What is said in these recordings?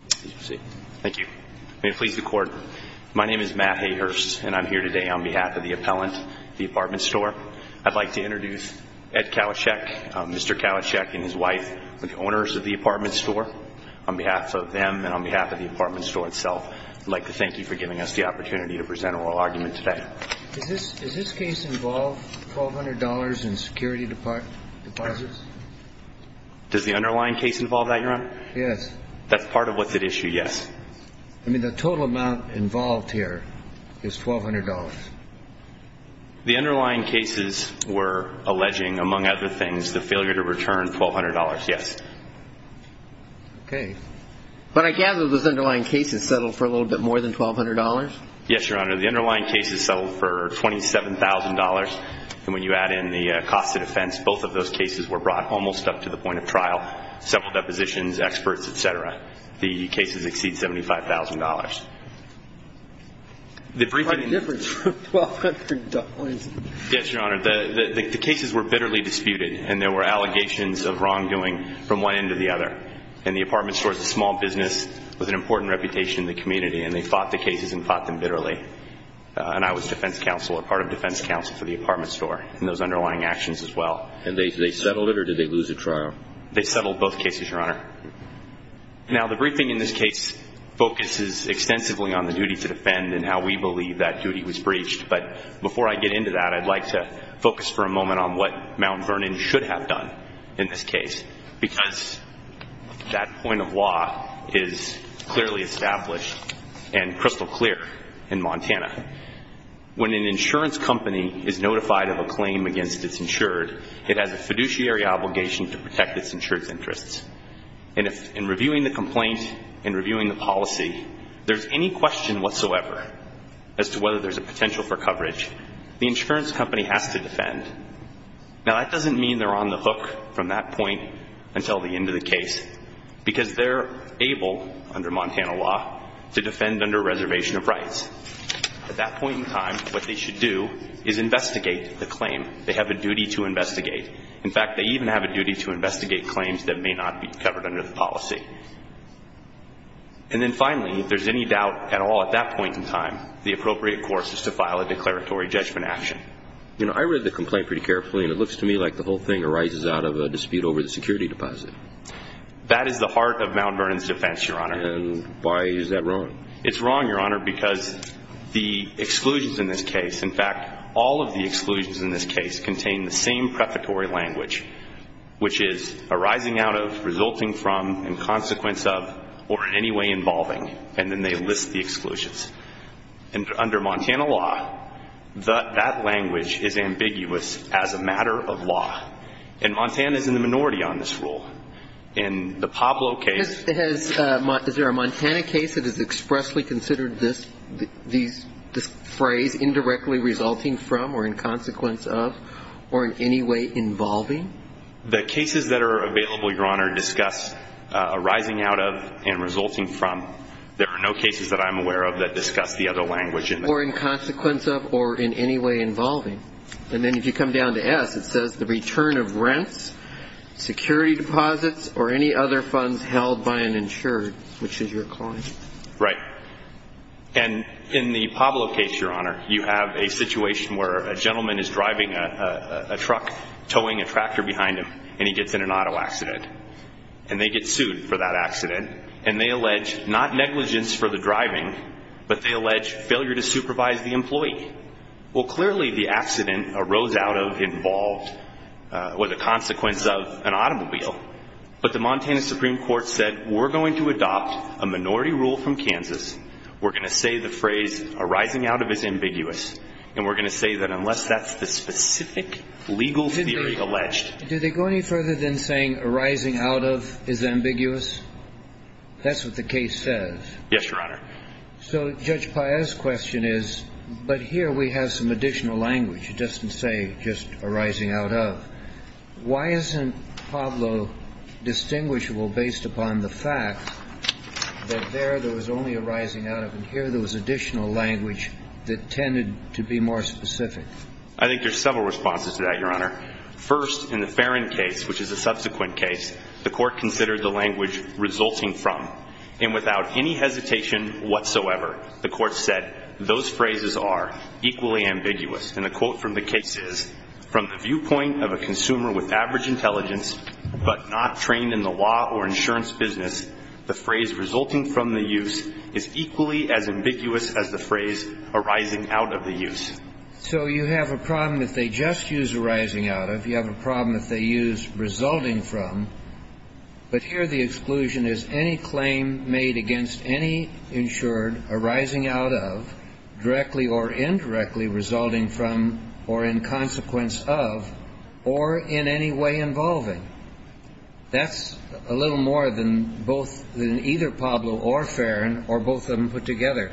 Thank you. May it please the Court, my name is Matt Hayhurst and I'm here today on behalf of the appellant, the Apartment Store. I'd like to introduce Ed Kalashek, Mr. Kalashek and his wife, the owners of the Apartment Store. On behalf of them and on behalf of the Apartment Store itself, I'd like to thank you for giving us the opportunity to present an oral argument today. Does this case involve $1,200 in security deposits? Yes. That's part of what's at issue, yes. I mean, the total amount involved here is $1,200. The underlying cases were alleging, among other things, the failure to return $1,200, yes. Okay. But I gather those underlying cases settled for a little bit more than $1,200? Yes, Your Honor, the underlying cases settled for $27,000, and when you add in the cost of defense, both of those cases were brought almost up to the point of trial, several depositions, experts, et cetera. The cases exceed $75,000. What difference would $1,200 make? Yes, Your Honor, the cases were bitterly disputed, and there were allegations of wrongdoing from one end to the other. And the Apartment Store is a small business with an important reputation in the community, and they fought the cases and fought them bitterly. And I was defense counsel or part of defense counsel for the Apartment Store in those underlying actions as well. And they settled it, or did they lose the trial? They settled both cases, Your Honor. Now, the briefing in this case focuses extensively on the duty to defend and how we believe that duty was breached. But before I get into that, I'd like to focus for a moment on what Mount Vernon should have done in this case, because that point of law is clearly established and crystal clear in Montana. When an insurance company is notified of a claim against its insured, it has a fiduciary obligation to protect its insured's interests. And in reviewing the complaint and reviewing the policy, there's any question whatsoever as to whether there's a potential for coverage. The insurance company has to defend. Now, that doesn't mean they're on the hook from that point until the end of the case, because they're able, under Montana law, to defend under reservation of rights. At that point in time, what they should do is investigate the claim. They have a duty to investigate. In fact, they even have a duty to investigate claims that may not be covered under the policy. And then finally, if there's any doubt at all at that point in time, the appropriate course is to file a declaratory judgment action. You know, I read the complaint pretty carefully, and it looks to me like the whole thing arises out of a dispute over the security deposit. That is the heart of Mount Vernon's defense, Your Honor. And why is that wrong? It's wrong, Your Honor, because the exclusions in this case, in fact, all of the exclusions in this case, contain the same prefatory language, which is arising out of, resulting from, and consequence of, or in any way involving. And then they list the exclusions. And under Montana law, that language is ambiguous as a matter of law. And Montana is in the minority on this rule. In the Pablo case ---- Is there a Montana case that is expressly considered this phrase, indirectly resulting from or in consequence of or in any way involving? The cases that are available, Your Honor, discuss arising out of and resulting from. There are no cases that I'm aware of that discuss the other language. Or in consequence of or in any way involving. And then if you come down to S, it says the return of rents, security deposits, or any other funds held by an insured, which is your client. Right. And in the Pablo case, Your Honor, you have a situation where a gentleman is driving a truck, towing a tractor behind him, and he gets in an auto accident. And they get sued for that accident. And they allege not negligence for the driving, but they allege failure to supervise the employee. Well, clearly the accident arose out of, involved, or the consequence of an automobile. But the Montana Supreme Court said, we're going to adopt a minority rule from Kansas. We're going to say the phrase arising out of is ambiguous. And we're going to say that unless that's the specific legal theory alleged. Do they go any further than saying arising out of is ambiguous? That's what the case says. Yes, Your Honor. So Judge Paez's question is, but here we have some additional language. It doesn't say just arising out of. Why isn't Pablo distinguishable based upon the fact that there, there was only arising out of, and here there was additional language that tended to be more specific? I think there's several responses to that, Your Honor. First, in the Farron case, which is a subsequent case, the Court considered the language resulting from. And without any hesitation whatsoever, the Court said, those phrases are equally ambiguous. And the quote from the case is, from the viewpoint of a consumer with average intelligence but not trained in the law or insurance business, the phrase resulting from the use is equally as ambiguous as the phrase arising out of the use. So you have a problem if they just use arising out of. You have a problem if they use resulting from. But here the exclusion is any claim made against any insured arising out of, directly or indirectly resulting from, or in consequence of, or in any way involving. That's a little more than both, than either Pablo or Farron or both of them put together.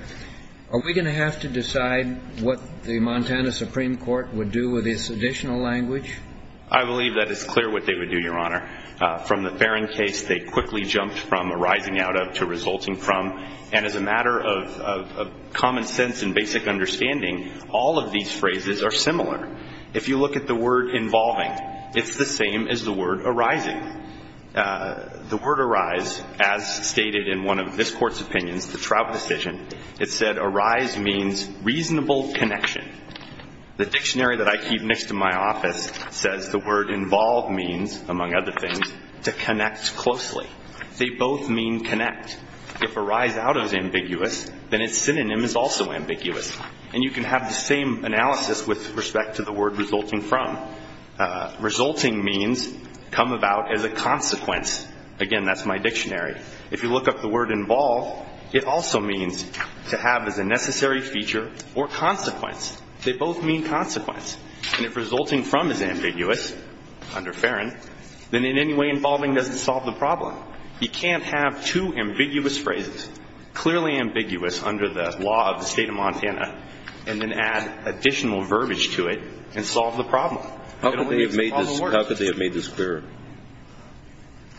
Are we going to have to decide what the Montana Supreme Court would do with this additional language? I believe that it's clear what they would do, Your Honor. From the Farron case, they quickly jumped from arising out of to resulting from. And as a matter of common sense and basic understanding, all of these phrases are similar. If you look at the word involving, it's the same as the word arising. The word arise, as stated in one of this Court's opinions, the Trout decision, it said arise means reasonable connection. The dictionary that I keep next to my office says the word involve means, among other things, to connect closely. They both mean connect. If arise out of is ambiguous, then its synonym is also ambiguous. And you can have the same analysis with respect to the word resulting from. Resulting means come about as a consequence. Again, that's my dictionary. If you look up the word involve, it also means to have as a necessary feature or consequence. They both mean consequence. And if resulting from is ambiguous, under Farron, then in any way involving doesn't solve the problem. You can't have two ambiguous phrases, clearly ambiguous under the law of the State of Montana, and then add additional verbiage to it and solve the problem. How could they have made this clearer?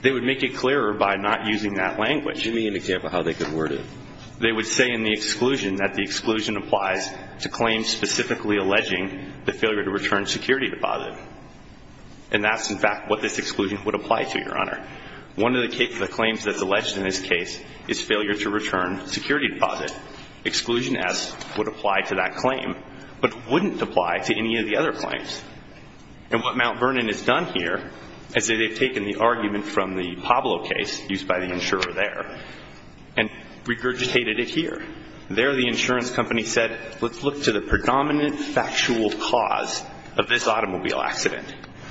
They would make it clearer by not using that language. Give me an example of how they could word it. They would say in the exclusion that the exclusion applies to claims specifically alleging the failure to return security deposit. And that's, in fact, what this exclusion would apply to, Your Honor. One of the claims that's alleged in this case is failure to return security deposit. Exclusion S would apply to that claim but wouldn't apply to any of the other claims. And what Mount Vernon has done here is they've taken the argument from the Pablo case used by the insurer there and regurgitated it here. There the insurance company said let's look to the predominant factual cause of this automobile accident.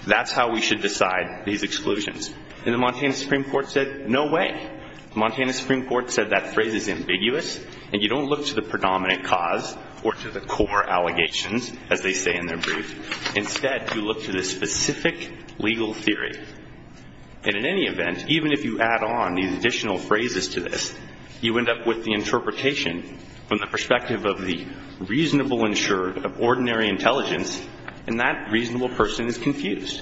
That's how we should decide these exclusions. And the Montana Supreme Court said no way. The Montana Supreme Court said that phrase is ambiguous, and you don't look to the predominant cause or to the core allegations, as they say in their brief. Instead, you look to the specific legal theory. And in any event, even if you add on these additional phrases to this, you end up with the interpretation from the perspective of the reasonable insurer of ordinary intelligence, and that reasonable person is confused.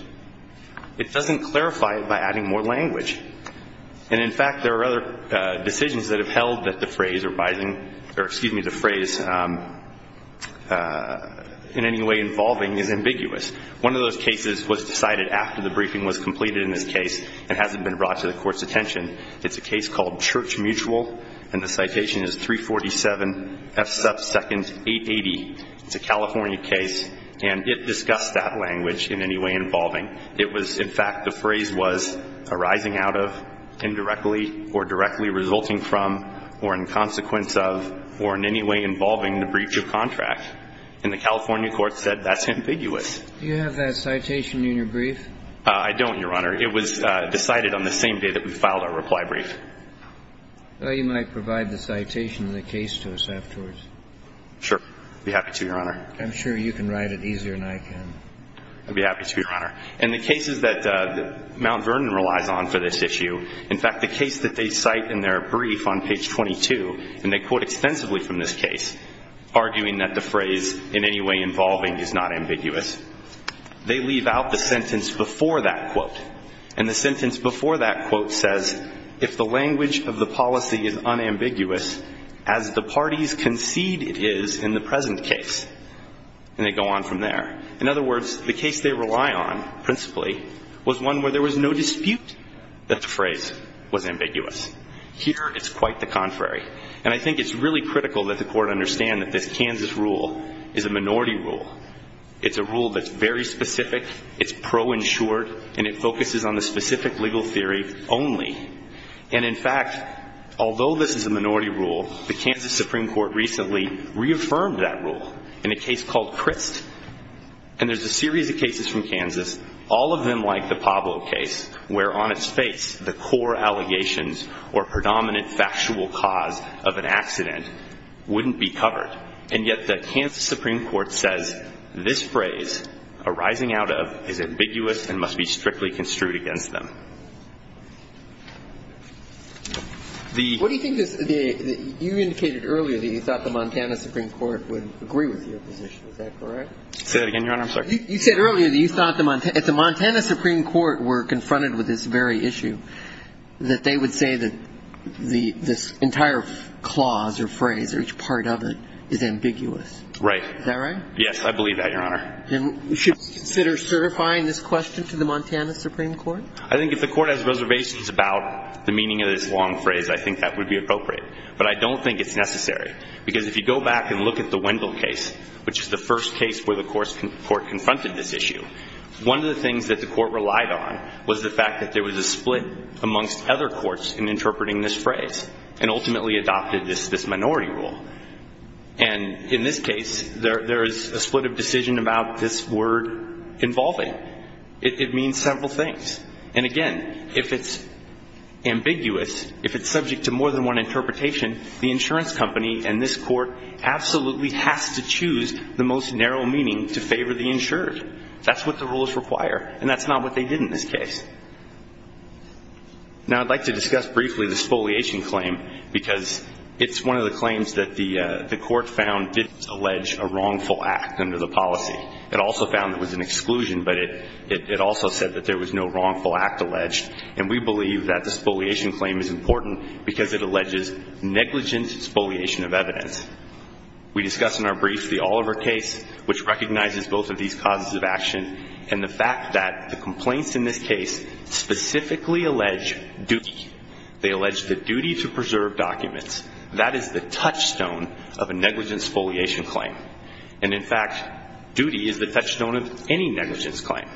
It doesn't clarify it by adding more language. And, in fact, there are other decisions that have held that the phrase arising or, excuse me, the phrase in any way involving is ambiguous. One of those cases was decided after the briefing was completed in this case and hasn't been brought to the Court's attention. It's a case called Church Mutual, and the citation is 347 F sub 2nd 880. It's a California case, and it discussed that language in any way involving. It was, in fact, the phrase was arising out of, indirectly or directly resulting from, or in consequence of, or in any way involving the breach of contract. And the California court said that's ambiguous. Do you have that citation in your brief? I don't, Your Honor. It was decided on the same day that we filed our reply brief. Well, you might provide the citation in the case to us afterwards. Sure. I'd be happy to, Your Honor. I'd be happy to, Your Honor. And the cases that Mount Vernon relies on for this issue, in fact, the case that they cite in their brief on page 22, and they quote extensively from this case, arguing that the phrase in any way involving is not ambiguous, they leave out the sentence before that quote. And the sentence before that quote says, if the language of the policy is unambiguous as the parties concede it is in the present case. And they go on from there. In other words, the case they rely on, principally, was one where there was no dispute that the phrase was ambiguous. Here it's quite the contrary. And I think it's really critical that the court understand that this Kansas rule is a minority rule. It's a rule that's very specific. It's pro-insured. And it focuses on the specific legal theory only. And, in fact, although this is a minority rule, the Kansas Supreme Court recently reaffirmed that rule in a case called Crist. And there's a series of cases from Kansas, all of them like the Pablo case, where on its face the core allegations or predominant factual cause of an accident wouldn't be covered. And yet the Kansas Supreme Court says this phrase, arising out of, is ambiguous and must be strictly construed against them. The ---- What do you think is the ---- you indicated earlier that you thought the Montana Supreme Court would agree with your position. Is that correct? Say that again, Your Honor. I'm sorry. You said earlier that you thought the Montana Supreme Court were confronted with this very issue, that they would say that this entire clause or phrase or each part of it is ambiguous. Right. Is that right? Yes, I believe that, Your Honor. And should we consider certifying this question to the Montana Supreme Court? I think if the court has reservations about the meaning of this long phrase, I think that would be appropriate. But I don't think it's necessary. Because if you go back and look at the Wendell case, which is the first case where the court confronted this issue, one of the things that the court relied on was the fact that there was a split amongst other courts in interpreting this phrase and ultimately adopted this minority rule. And in this case, there is a split of decision about this word involving. It means several things. And, again, if it's ambiguous, if it's subject to more than one interpretation, the insurance company and this court absolutely has to choose the most narrow meaning to favor the insured. That's what the rules require. And that's not what they did in this case. Now, I'd like to discuss briefly the spoliation claim, because it's one of the claims that the court found didn't allege a wrongful act under the policy. It also found there was an exclusion, but it also said that there was no wrongful act alleged. And we believe that the spoliation claim is important because it alleges negligent spoliation of evidence. We discussed in our brief the Oliver case, which recognizes both of these causes of action, and the fact that the complaints in this case specifically allege duty. They allege the duty to preserve documents. That is the touchstone of a negligent spoliation claim. And, in fact, duty is the touchstone of any negligence claim.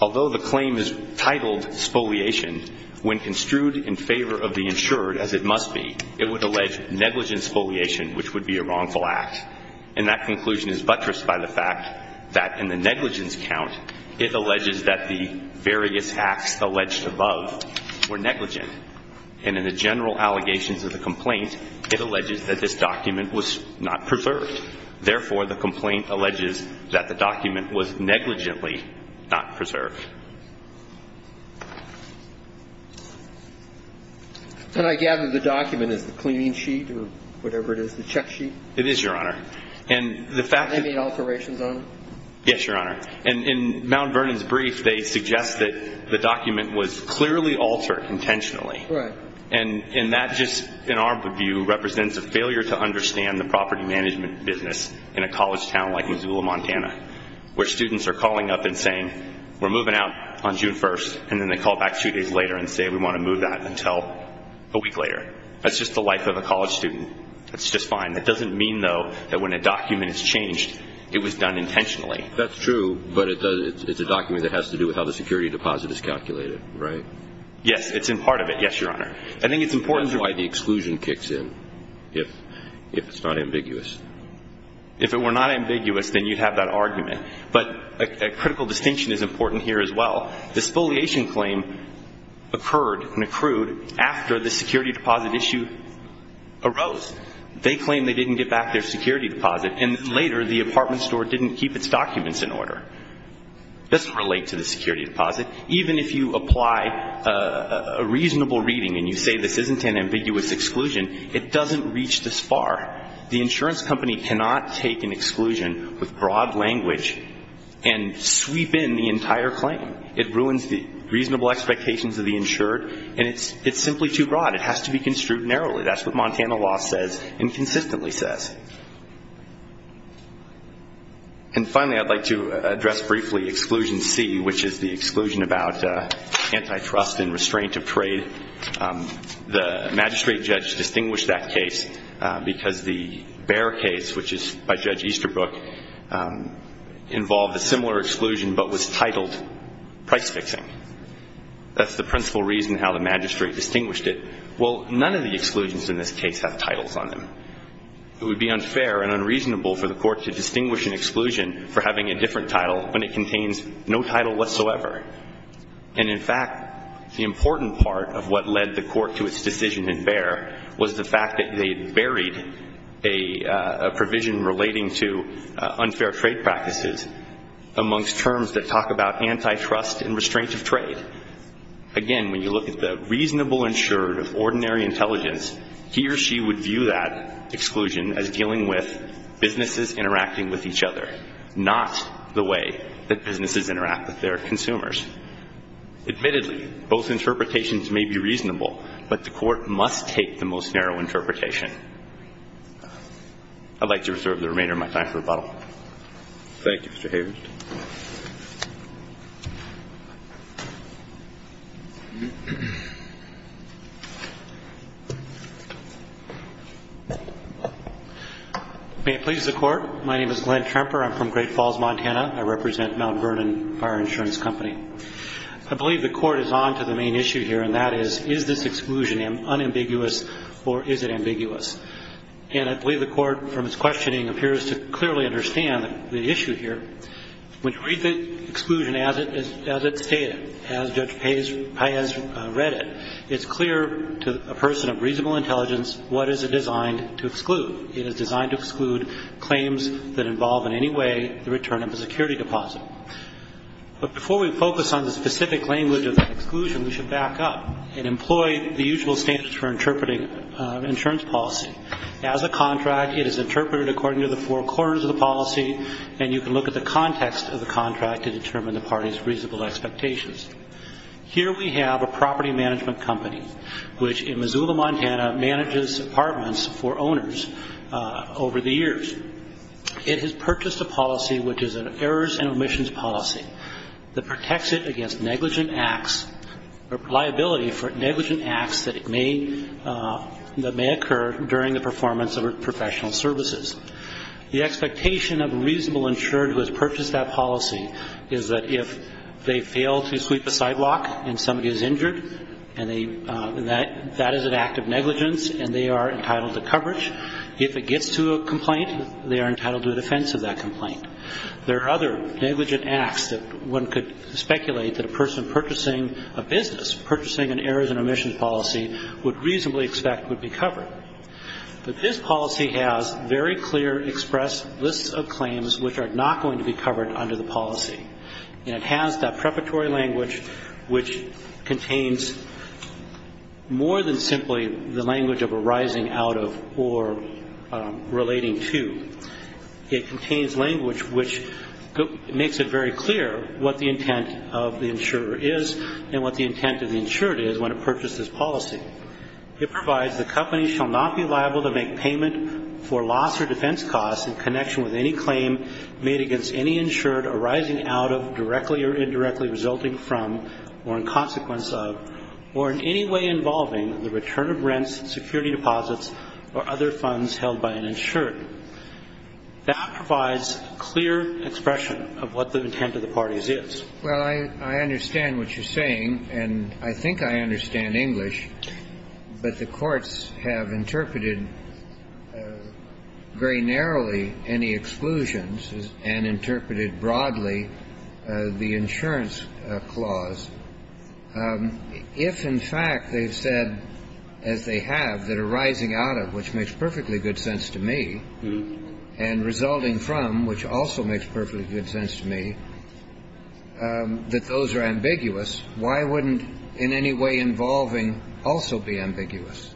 Although the claim is titled spoliation, when construed in favor of the insured, as it must be, it would allege negligent spoliation, which would be a wrongful act. And that conclusion is buttressed by the fact that in the negligence count, it alleges that the various acts alleged above were negligent. And in the general allegations of the complaint, it alleges that this document was not preserved. Therefore, the complaint alleges that the document was negligently not preserved. And I gather the document is the cleaning sheet or whatever it is, the check sheet? It is, Your Honor. And the fact that- Any alterations on it? Yes, Your Honor. And in Mount Vernon's brief, they suggest that the document was clearly altered intentionally. Right. And that just, in our view, represents a failure to understand the property management business in a college town like Missoula, Montana, where students are calling up and saying, we're moving out on June 1st, and then they call back two days later and say, we want to move out until a week later. That's just the life of a college student. That's just fine. That doesn't mean, though, that when a document is changed, it was done intentionally. That's true, but it's a document that has to do with how the security deposit is calculated, right? Yes, it's in part of it. Yes, Your Honor. I think it's important to- That's why the exclusion kicks in, if it's not ambiguous. If it were not ambiguous, then you'd have that argument. But a critical distinction is important here as well. The spoliation claim occurred and accrued after the security deposit issue arose. They claimed they didn't get back their security deposit, and later the apartment store didn't keep its documents in order. It doesn't relate to the security deposit. Even if you apply a reasonable reading and you say this isn't an ambiguous exclusion, it doesn't reach this far. The insurance company cannot take an exclusion with broad language and sweep in the entire claim. It ruins the reasonable expectations of the insured, and it's simply too broad. It has to be construed narrowly. That's what Montana law says and consistently says. And finally, I'd like to address briefly Exclusion C, which is the exclusion about antitrust and restraint of trade. The magistrate judge distinguished that case because the Bear case, which is by Judge Easterbrook, involved a similar exclusion but was titled price fixing. That's the principal reason how the magistrate distinguished it. Well, none of the exclusions in this case have titles on them. It would be unfair and unreasonable for the court to distinguish an exclusion for having a different title when it contains no title whatsoever. And, in fact, the important part of what led the court to its decision in Bear was the fact that they buried a provision relating to unfair trade practices amongst terms that talk about antitrust and restraint of trade. Again, when you look at the reasonable insured of ordinary intelligence, he or she would view that exclusion as dealing with businesses interacting with each other, not the way that businesses interact with their consumers. Admittedly, both interpretations may be reasonable, but the court must take the most narrow interpretation. I'd like to reserve the remainder of my time for rebuttal. Thank you, Mr. Hayward. May it please the Court. My name is Glenn Tremper. I'm from Great Falls, Montana. I represent Mount Vernon Fire Insurance Company. I believe the court is on to the main issue here, and that is, is this exclusion unambiguous or is it ambiguous? And I believe the court, from its questioning, appears to clearly understand the issue here. When you read the exclusion as it's stated, as Judge Paes read it, it's clear to a person of reasonable intelligence what is it designed to exclude. It is designed to exclude claims that involve in any way the return of a security deposit. But before we focus on the specific language of that exclusion, we should back up and employ the usual standards for interpreting insurance policy. As a contract, it is interpreted according to the four corners of the policy, and you can look at the context of the contract to determine the party's reasonable expectations. Here we have a property management company, which in Missoula, Montana, manages apartments for owners over the years. It has purchased a policy which is an errors and omissions policy that protects it against negligent acts or liability for negligent acts that may occur during the performance of professional services. The expectation of a reasonable insured who has purchased that policy is that if they fail to sweep a sidewalk and somebody is injured, that is an act of negligence and they are entitled to coverage. If it gets to a complaint, they are entitled to a defense of that complaint. There are other negligent acts that one could speculate that a person purchasing a business, purchasing an errors and omissions policy, would reasonably expect would be covered. But this policy has very clear expressed lists of claims which are not going to be covered under the policy. And it has that preparatory language which contains more than simply the language of arising out of or relating to. It contains language which makes it very clear what the intent of the insurer is and what the intent of the insured is when it purchased this policy. It provides the company shall not be liable to make payment for loss or defense costs in connection with any claim made against any insured arising out of, directly or indirectly resulting from, or in consequence of, or in any way involving the return of rents, security deposits, or other funds held by an insured. That provides clear expression of what the intent of the parties is. Well, I understand what you're saying and I think I understand English, but the courts have interpreted very narrowly any exclusions and interpreted broadly the insurance clause. If, in fact, they've said, as they have, that arising out of, which makes perfectly good sense to me, and resulting from, which also makes perfectly good sense to me, that those are ambiguous, why wouldn't in any way involving also be ambiguous?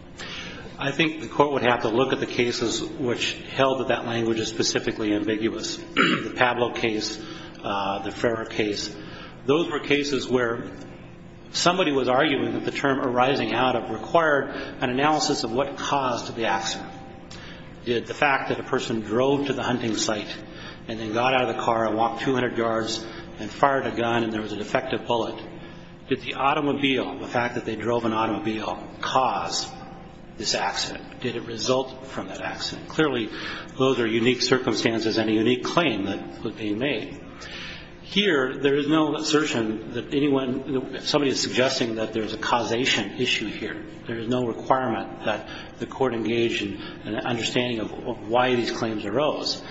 I think the Court would have to look at the cases which held that that language is specifically ambiguous, the Pablo case, the Ferrer case. Those were cases where somebody was arguing that the term arising out of required an analysis of what caused the accident. Did the fact that a person drove to the hunting site and then got out of the car and walked 200 yards and fired a gun and there was a defective bullet, did the automobile, the fact that they drove an automobile, cause this accident? Did it result from that accident? Clearly, those are unique circumstances and a unique claim that would be made. Here, there is no assertion that anyone, somebody is suggesting that there is a causation issue here. There is no requirement that the Court engage in an understanding of why these claims arose,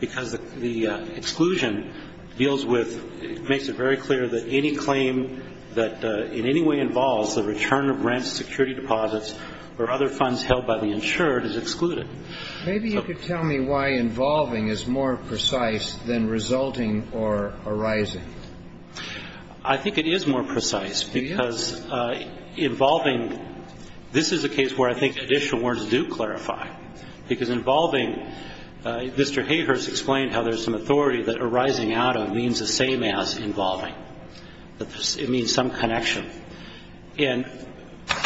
because the exclusion deals with, makes it very clear that any claim that in any way involves the return of rents, security deposits, or other funds held by the insured is excluded. Maybe you could tell me why involving is more precise than resulting or arising. I think it is more precise, because involving, this is a case where I think additional words do clarify, because involving, Mr. Hayhurst explained how there is some authority that arising out of means the same as involving. It means some connection. And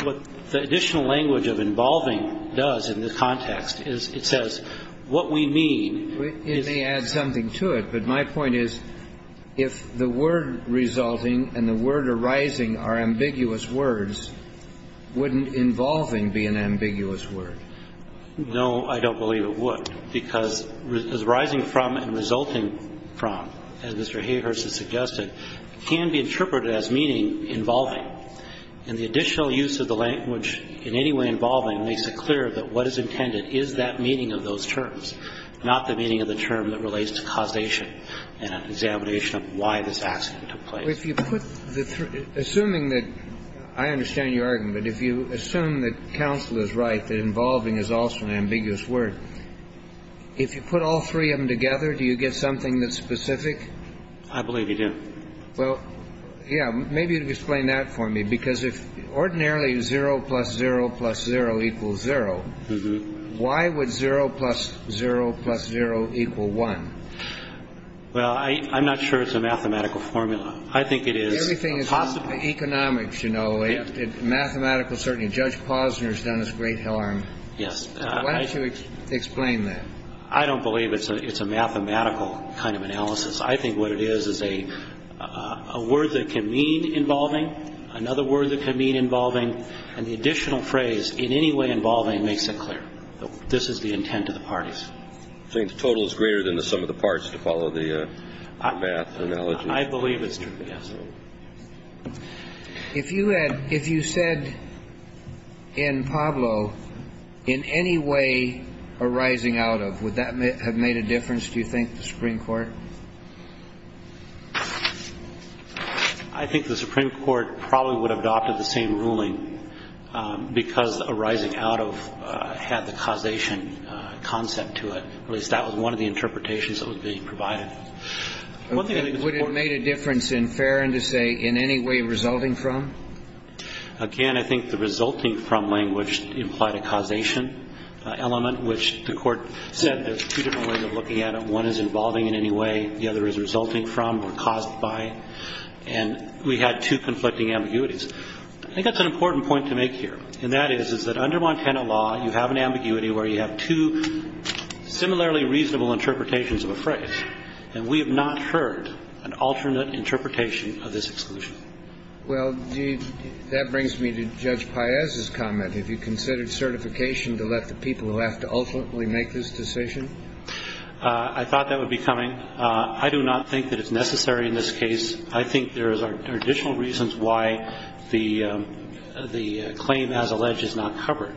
what the additional language of involving does in this context is it says what we mean is. It may add something to it, but my point is if the word resulting and the word arising are ambiguous words, wouldn't involving be an ambiguous word? No, I don't believe it would, because arising from and resulting from, as Mr. Hayhurst has suggested, can be interpreted as meaning involving. And the additional use of the language in any way involving makes it clear that what is intended is that meaning of those terms, not the meaning of the term that relates to causation and examination of why this accident took place. If you put the three, assuming that, I understand your argument, but if you assume that counsel is right, that involving is also an ambiguous word, if you put all three of them together, do you get something that's specific? I believe you do. Well, yeah. Maybe you could explain that for me, because if ordinarily 0 plus 0 plus 0 equals 0, why would 0 plus 0 plus 0 equal 1? Well, I'm not sure it's a mathematical formula. I think it is possible. Everything is economics, you know. Mathematical certainty. Judge Posner has done us great harm. Yes. Why don't you explain that? I don't believe it's a mathematical kind of analysis. I think what it is is a word that can mean involving, another word that can mean involving, and the additional phrase, in any way involving, makes it clear. This is the intent of the parties. So you think the total is greater than the sum of the parts to follow the math analogy? I believe it's true, yes. If you said in Pablo, in any way arising out of, would that have made a difference, do you think, the Supreme Court? I think the Supreme Court probably would have adopted the same ruling, because arising out of had the causation concept to it. At least that was one of the interpretations that was being provided. Would it have made a difference in Ferron to say, in any way resulting from? Again, I think the resulting from language implied a causation element, which the one is involving in any way, the other is resulting from or caused by, and we had two conflicting ambiguities. I think that's an important point to make here, and that is, is that under Montana law, you have an ambiguity where you have two similarly reasonable interpretations of a phrase, and we have not heard an alternate interpretation of this exclusion. Well, that brings me to Judge Paez's comment. Have you considered certification to let the people who have to ultimately make this decision? I thought that would be coming. I do not think that it's necessary in this case. I think there are additional reasons why the claim as alleged is not covered.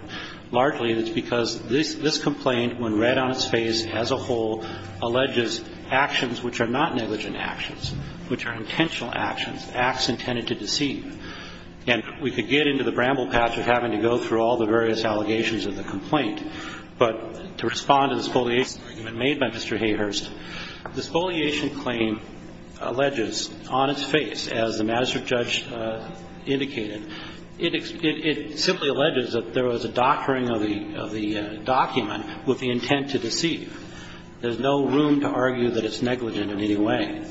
Largely, it's because this complaint, when read on its face as a whole, alleges actions which are not negligent actions, which are intentional actions, acts intended to deceive. And we could get into the bramble patch of having to go through all the various allegations of the complaint. But to respond to the spoliation argument made by Mr. Hayhurst, the spoliation claim alleges on its face, as the magistrate judge indicated, it simply alleges that there was a doctoring of the document with the intent to deceive. There's no room to argue that it's negligent in any way.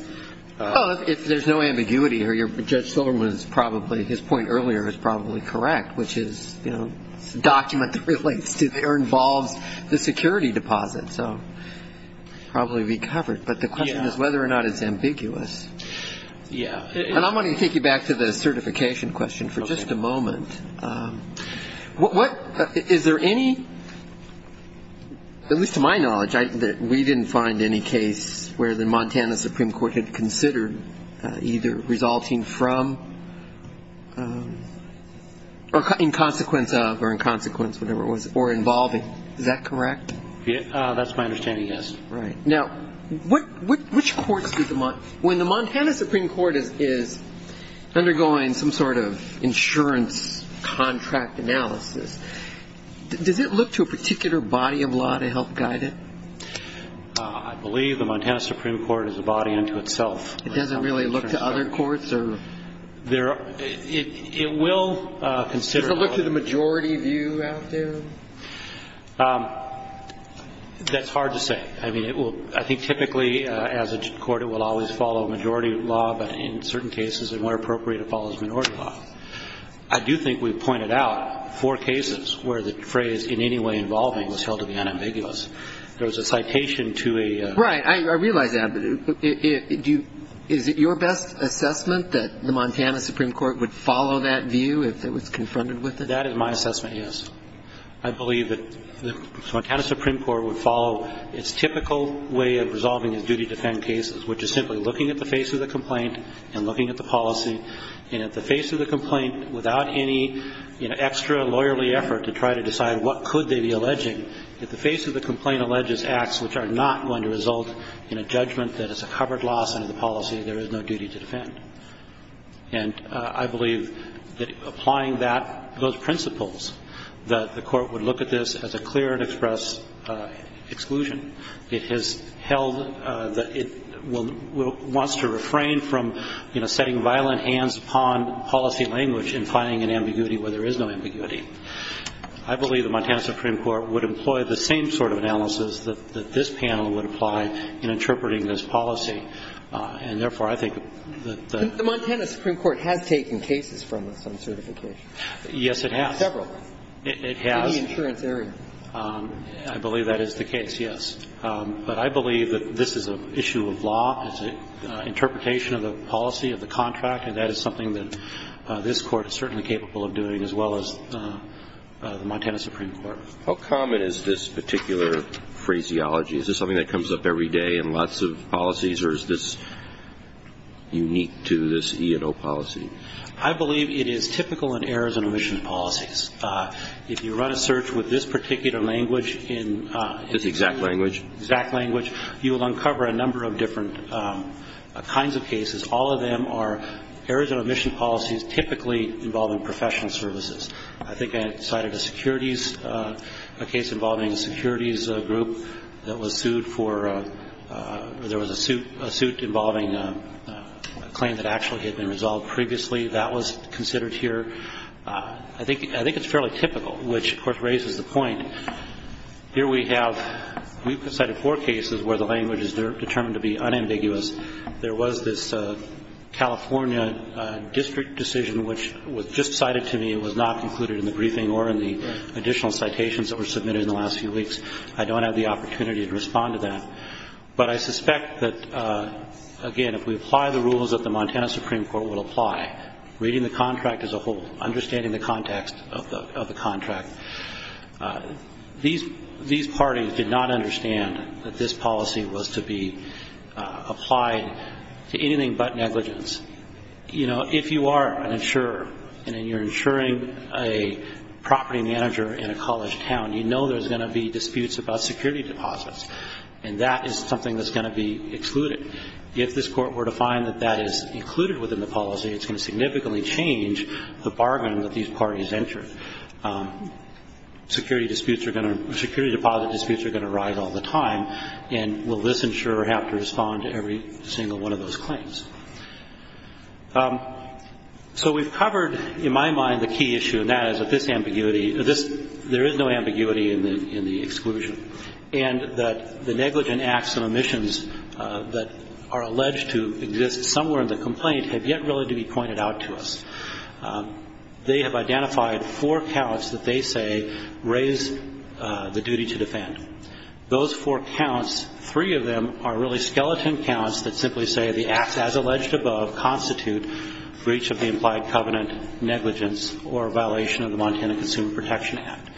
Well, if there's no ambiguity here, Judge Silverman is probably, his point earlier is probably correct, which is, you know, it's a document that relates to or involves the security deposit. So it will probably be covered. But the question is whether or not it's ambiguous. Yeah. And I'm going to take you back to the certification question for just a moment. Is there any, at least to my knowledge, that we didn't find any case where the in consequence of or in consequence, whatever it was, or involving. Is that correct? That's my understanding, yes. Right. Now, which courts did the, when the Montana Supreme Court is undergoing some sort of insurance contract analysis, does it look to a particular body of law to help guide it? I believe the Montana Supreme Court is a body unto itself. It doesn't really look to other courts? It will consider. Does it look to the majority view out there? That's hard to say. I mean, it will, I think typically, as a court, it will always follow majority law, but in certain cases, and where appropriate, it follows minority law. I do think we pointed out four cases where the phrase in any way involving was held to be unambiguous. There was a citation to a... Right. I realize that. Is it your best assessment that the Montana Supreme Court would follow that view if it was confronted with it? That is my assessment, yes. I believe that the Montana Supreme Court would follow its typical way of resolving its duty to defend cases, which is simply looking at the face of the complaint and looking at the policy. And at the face of the complaint, without any extra lawyerly effort to try to decide what could they be alleging, if the face of the complaint alleges acts which are not going to result in a judgment that is a covered loss under the policy, there is no duty to defend. And I believe that applying that, those principles, that the court would look at this as a clear and express exclusion. It has held that it will, wants to refrain from, you know, setting violent hands upon policy language in finding an ambiguity where there is no ambiguity. I believe the Montana Supreme Court would employ the same sort of analysis that this panel would apply in interpreting this policy. And therefore, I think that the ---- The Montana Supreme Court has taken cases from some certifications. Yes, it has. Several. It has. In the insurance area. I believe that is the case, yes. But I believe that this is an issue of law, it's an interpretation of the policy of the contract, and that is something that this Court is certainly capable of doing as well as the Montana Supreme Court. How common is this particular phraseology? Is this something that comes up every day in lots of policies, or is this unique to this E&O policy? I believe it is typical in errors and omission policies. If you run a search with this particular language in ---- This exact language? Exact language, you will uncover a number of different kinds of cases. All of them are errors and omission policies typically involving professional services. I think I cited a securities ---- a case involving a securities group that was sued for ---- there was a suit involving a claim that actually had been resolved previously. That was considered here. I think it's fairly typical, which, of course, raises the point. Here we have ---- we've cited four cases where the language is determined to be unambiguous. There was this California district decision which was just cited to me. It was not included in the briefing or in the additional citations that were submitted in the last few weeks. I don't have the opportunity to respond to that. But I suspect that, again, if we apply the rules that the Montana Supreme Court will apply, reading the contract as a whole, understanding the context of the contract, these parties did not understand that this policy was to be applied to anything but negligence. You know, if you are an insurer and you're insuring a property manager in a college town, you know there's going to be disputes about security deposits. And that is something that's going to be excluded. If this Court were to find that that is included within the policy, it's going to significantly change the bargain that these parties enter. Security disputes are going to ---- security deposit disputes are going to rise all the time. And will this insurer have to respond to every single one of those claims? So we've covered, in my mind, the key issue, and that is that this ambiguity ---- there is no ambiguity in the exclusion, and that the negligent acts and omissions that are alleged to exist somewhere in the complaint have yet really to be pointed out to us. They have identified four counts that they say raise the duty to defend. Those four counts, three of them are really skeleton counts that simply say the acts as alleged above constitute breach of the implied covenant, negligence, or a violation of the Montana Consumer Protection Act.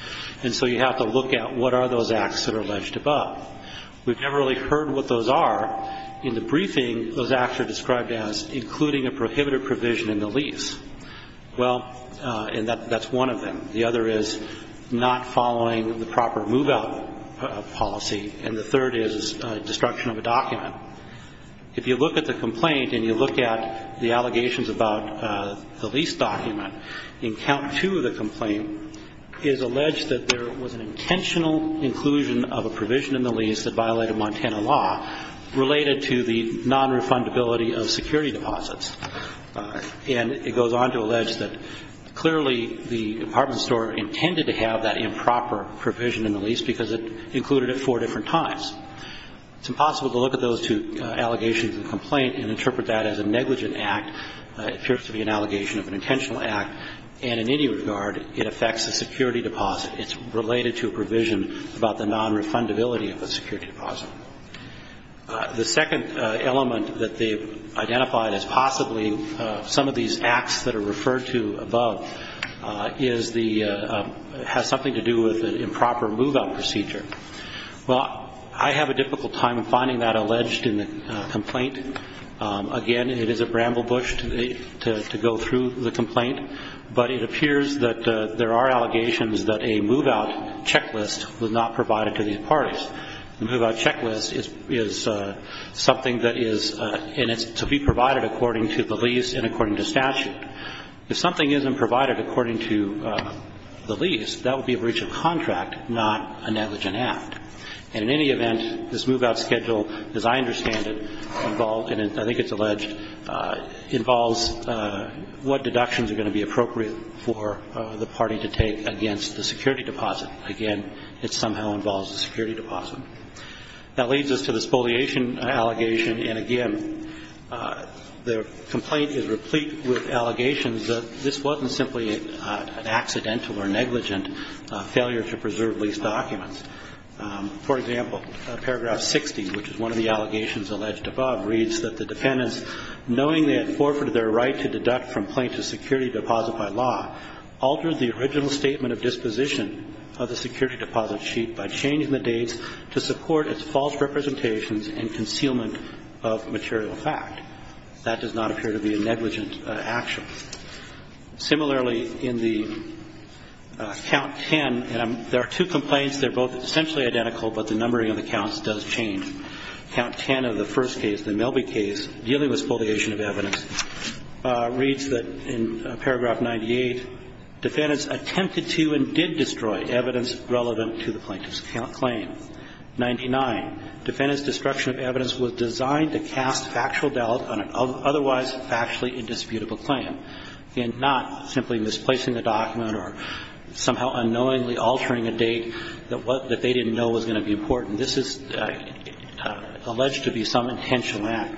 And so you have to look at what are those acts that are alleged above. We've never really heard what those are. In the briefing, those acts are described as including a prohibited provision in the lease. Well, and that's one of them. The other is not following the proper move-out policy. And the third is destruction of a document. If you look at the complaint and you look at the allegations about the lease document, in count two of the complaint, it is alleged that there was an intentional inclusion of a provision in the lease that violated Montana law related to the non-refundability of security deposits. And it goes on to allege that clearly the department store intended to have that improper provision in the lease because it included it four different times. It's impossible to look at those two allegations in the complaint and interpret that as a negligent act. It appears to be an allegation of an intentional act. And in any regard, it affects a security deposit. It's related to a provision about the non-refundability of a security deposit. The second element that they've identified as possibly some of these acts that are referred to above has something to do with an improper move-out procedure. Well, I have a difficult time finding that alleged in the complaint. Again, it is a bramble bush to go through the complaint, but it appears that there are allegations that a move-out checklist was not provided to these parties. A move-out checklist is something that is to be provided according to the lease and according to statute. If something isn't provided according to the lease, that would be a breach of contract, not a negligent act. And in any event, this move-out schedule, as I understand it, I think it's alleged, involves what deductions are going to be appropriate for the party to take against the security deposit. Again, it somehow involves the security deposit. That leads us to the spoliation allegation. And again, the complaint is replete with allegations that this wasn't simply an accidental or negligent failure to preserve lease documents. For example, Paragraph 60, which is one of the allegations alleged above, reads that the dependents, knowing they had forfeited their right to deduct from plaintiff's security deposit by law, altered the original statement of disposition of the security deposit sheet by changing the dates to support its false representations and concealment of material fact. That does not appear to be a negligent action. Similarly, in the Count 10, there are two complaints. They're both essentially identical, but the numbering of the counts does change. Count 10 of the first case, the Melby case, dealing with spoliation of evidence, reads that in Paragraph 98, dependents attempted to and did destroy evidence relevant to the plaintiff's claim. 99, dependents' destruction of evidence was designed to cast factual doubt on an otherwise factually indisputable claim. Again, not simply misplacing a document or somehow unknowingly altering a date that what they didn't know was going to be important. This is alleged to be some intentional act.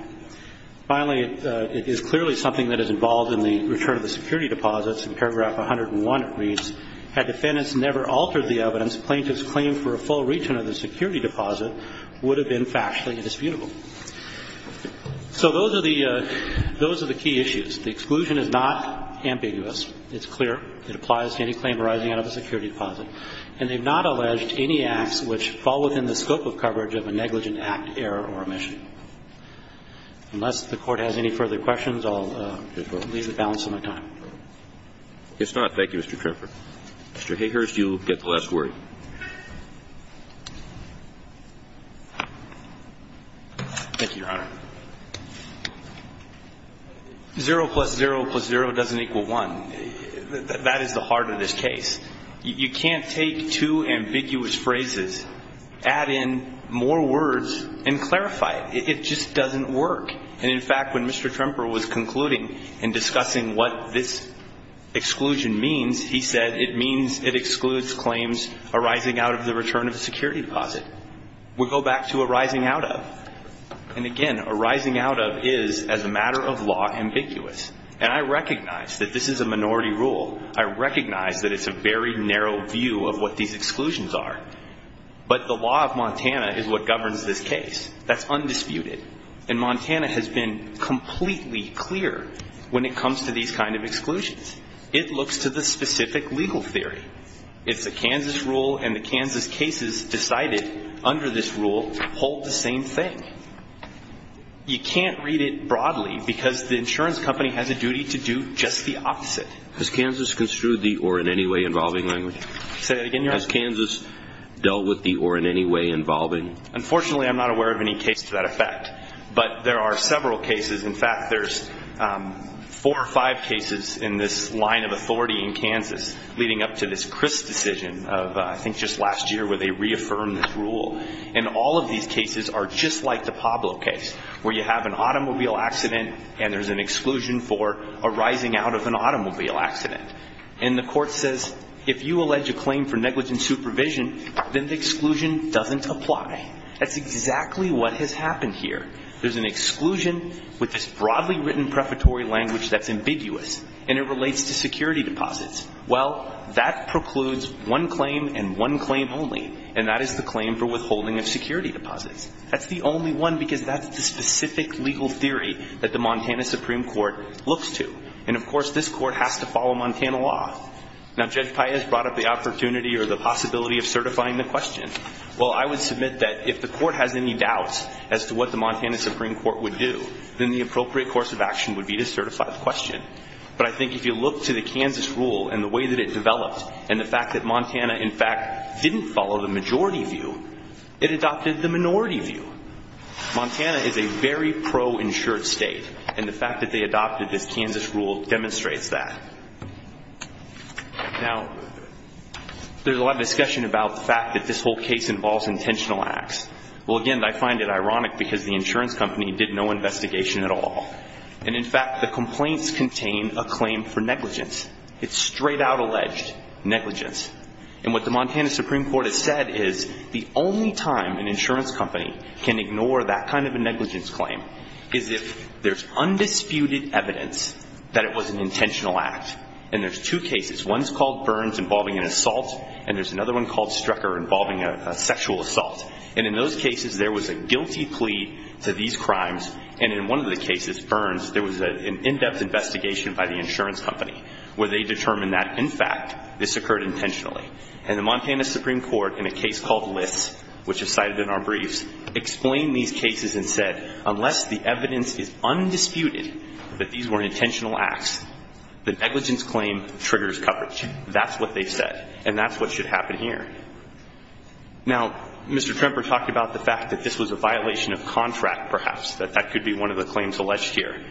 Finally, it is clearly something that is involved in the return of the security deposits. In Paragraph 101, it reads, had defendants never altered the evidence, plaintiff's claim for a full return of the security deposit would have been factually indisputable. So those are the key issues. The exclusion is not ambiguous. It's clear. It applies to any claim arising out of a security deposit. And they've not alleged any acts which fall within the scope of coverage of a negligent act, error, or omission. Unless the Court has any further questions, I'll leave the balance on my time. It's not. Thank you, Mr. Trimper. Mr. Hayhurst, you get the last word. Thank you, Your Honor. 0 plus 0 plus 0 doesn't equal 1. That is the heart of this case. You can't take two ambiguous phrases, add in more words, and clarify it. It just doesn't work. And, in fact, when Mr. Trimper was concluding and discussing what this exclusion means, he said it means it excludes claims arising out of the return of a security deposit. We'll go back to arising out of. And, again, arising out of is, as a matter of law, ambiguous. And I recognize that this is a minority rule. I recognize that it's a very narrow view of what these exclusions are. But the law of Montana is what governs this case. That's undisputed. And Montana has been completely clear when it comes to these kind of exclusions. It looks to the specific legal theory. It's a Kansas rule, and the Kansas cases decided under this rule hold the same thing. You can't read it broadly because the insurance company has a duty to do just the opposite. Has Kansas construed the or in any way involving language? Say that again, Your Honor. Has Kansas dealt with the or in any way involving? Unfortunately, I'm not aware of any case to that effect. But there are several cases. In fact, there's four or five cases in this line of authority in Kansas leading up to this Chris decision of, I think, just last year where they reaffirmed this rule. And all of these cases are just like the Pablo case where you have an automobile accident and there's an exclusion for arising out of an automobile accident. And the court says if you allege a claim for negligent supervision, then the exclusion doesn't apply. That's exactly what has happened here. There's an exclusion with this broadly written prefatory language that's ambiguous, and it relates to security deposits. Well, that precludes one claim and one claim only, and that is the claim for withholding of security deposits. That's the only one because that's the specific legal theory that the Montana Supreme Court looks to. And, of course, this court has to follow Montana law. Now, Judge Paez brought up the opportunity or the possibility of certifying the question. Well, I would submit that if the court has any doubts as to what the Montana Supreme Court would do, then the appropriate course of action would be to certify the question. But I think if you look to the Kansas rule and the way that it developed and the fact that Montana, in fact, didn't follow the majority view, it adopted the minority view. Montana is a very pro-insured state, and the fact that they adopted this Kansas rule demonstrates that. Now, there's a lot of discussion about the fact that this whole case involves intentional acts. Well, again, I find it ironic because the insurance company did no investigation at all. And, in fact, the complaints contain a claim for negligence. It's straight out alleged negligence. And what the Montana Supreme Court has said is the only time an insurance company can ignore that kind of a negligence claim is if there's undisputed evidence that it was an intentional act. And there's two cases. One's called Burns involving an assault, and there's another one called Strecker involving a sexual assault. And in those cases, there was a guilty plea to these crimes. And in one of the cases, Burns, there was an in-depth investigation by the insurance company where they determined that, in fact, this occurred intentionally. And the Montana Supreme Court, in a case called List, which is cited in our briefs, explained these cases and said unless the evidence is undisputed that these were intentional acts, the negligence claim triggers coverage. That's what they said, and that's what should happen here. Now, Mr. Tremper talked about the fact that this was a violation of contract, perhaps, that that could be one of the claims alleged here.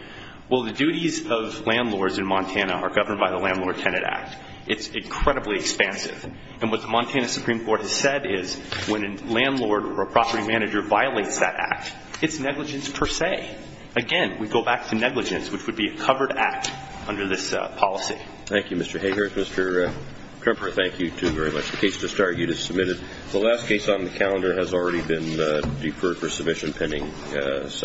Well, the duties of landlords in Montana are governed by the Landlord-Tenant Act. It's incredibly expansive. And what the Montana Supreme Court has said is when a landlord or a property manager violates that act, it's negligence per se. Again, we go back to negligence, which would be a covered act under this policy. Thank you, Mr. Hayhurst. Mr. Tremper, thank you, too, very much. The case to start you just submitted. The last case on the calendar has already been deferred for submission pending settlement.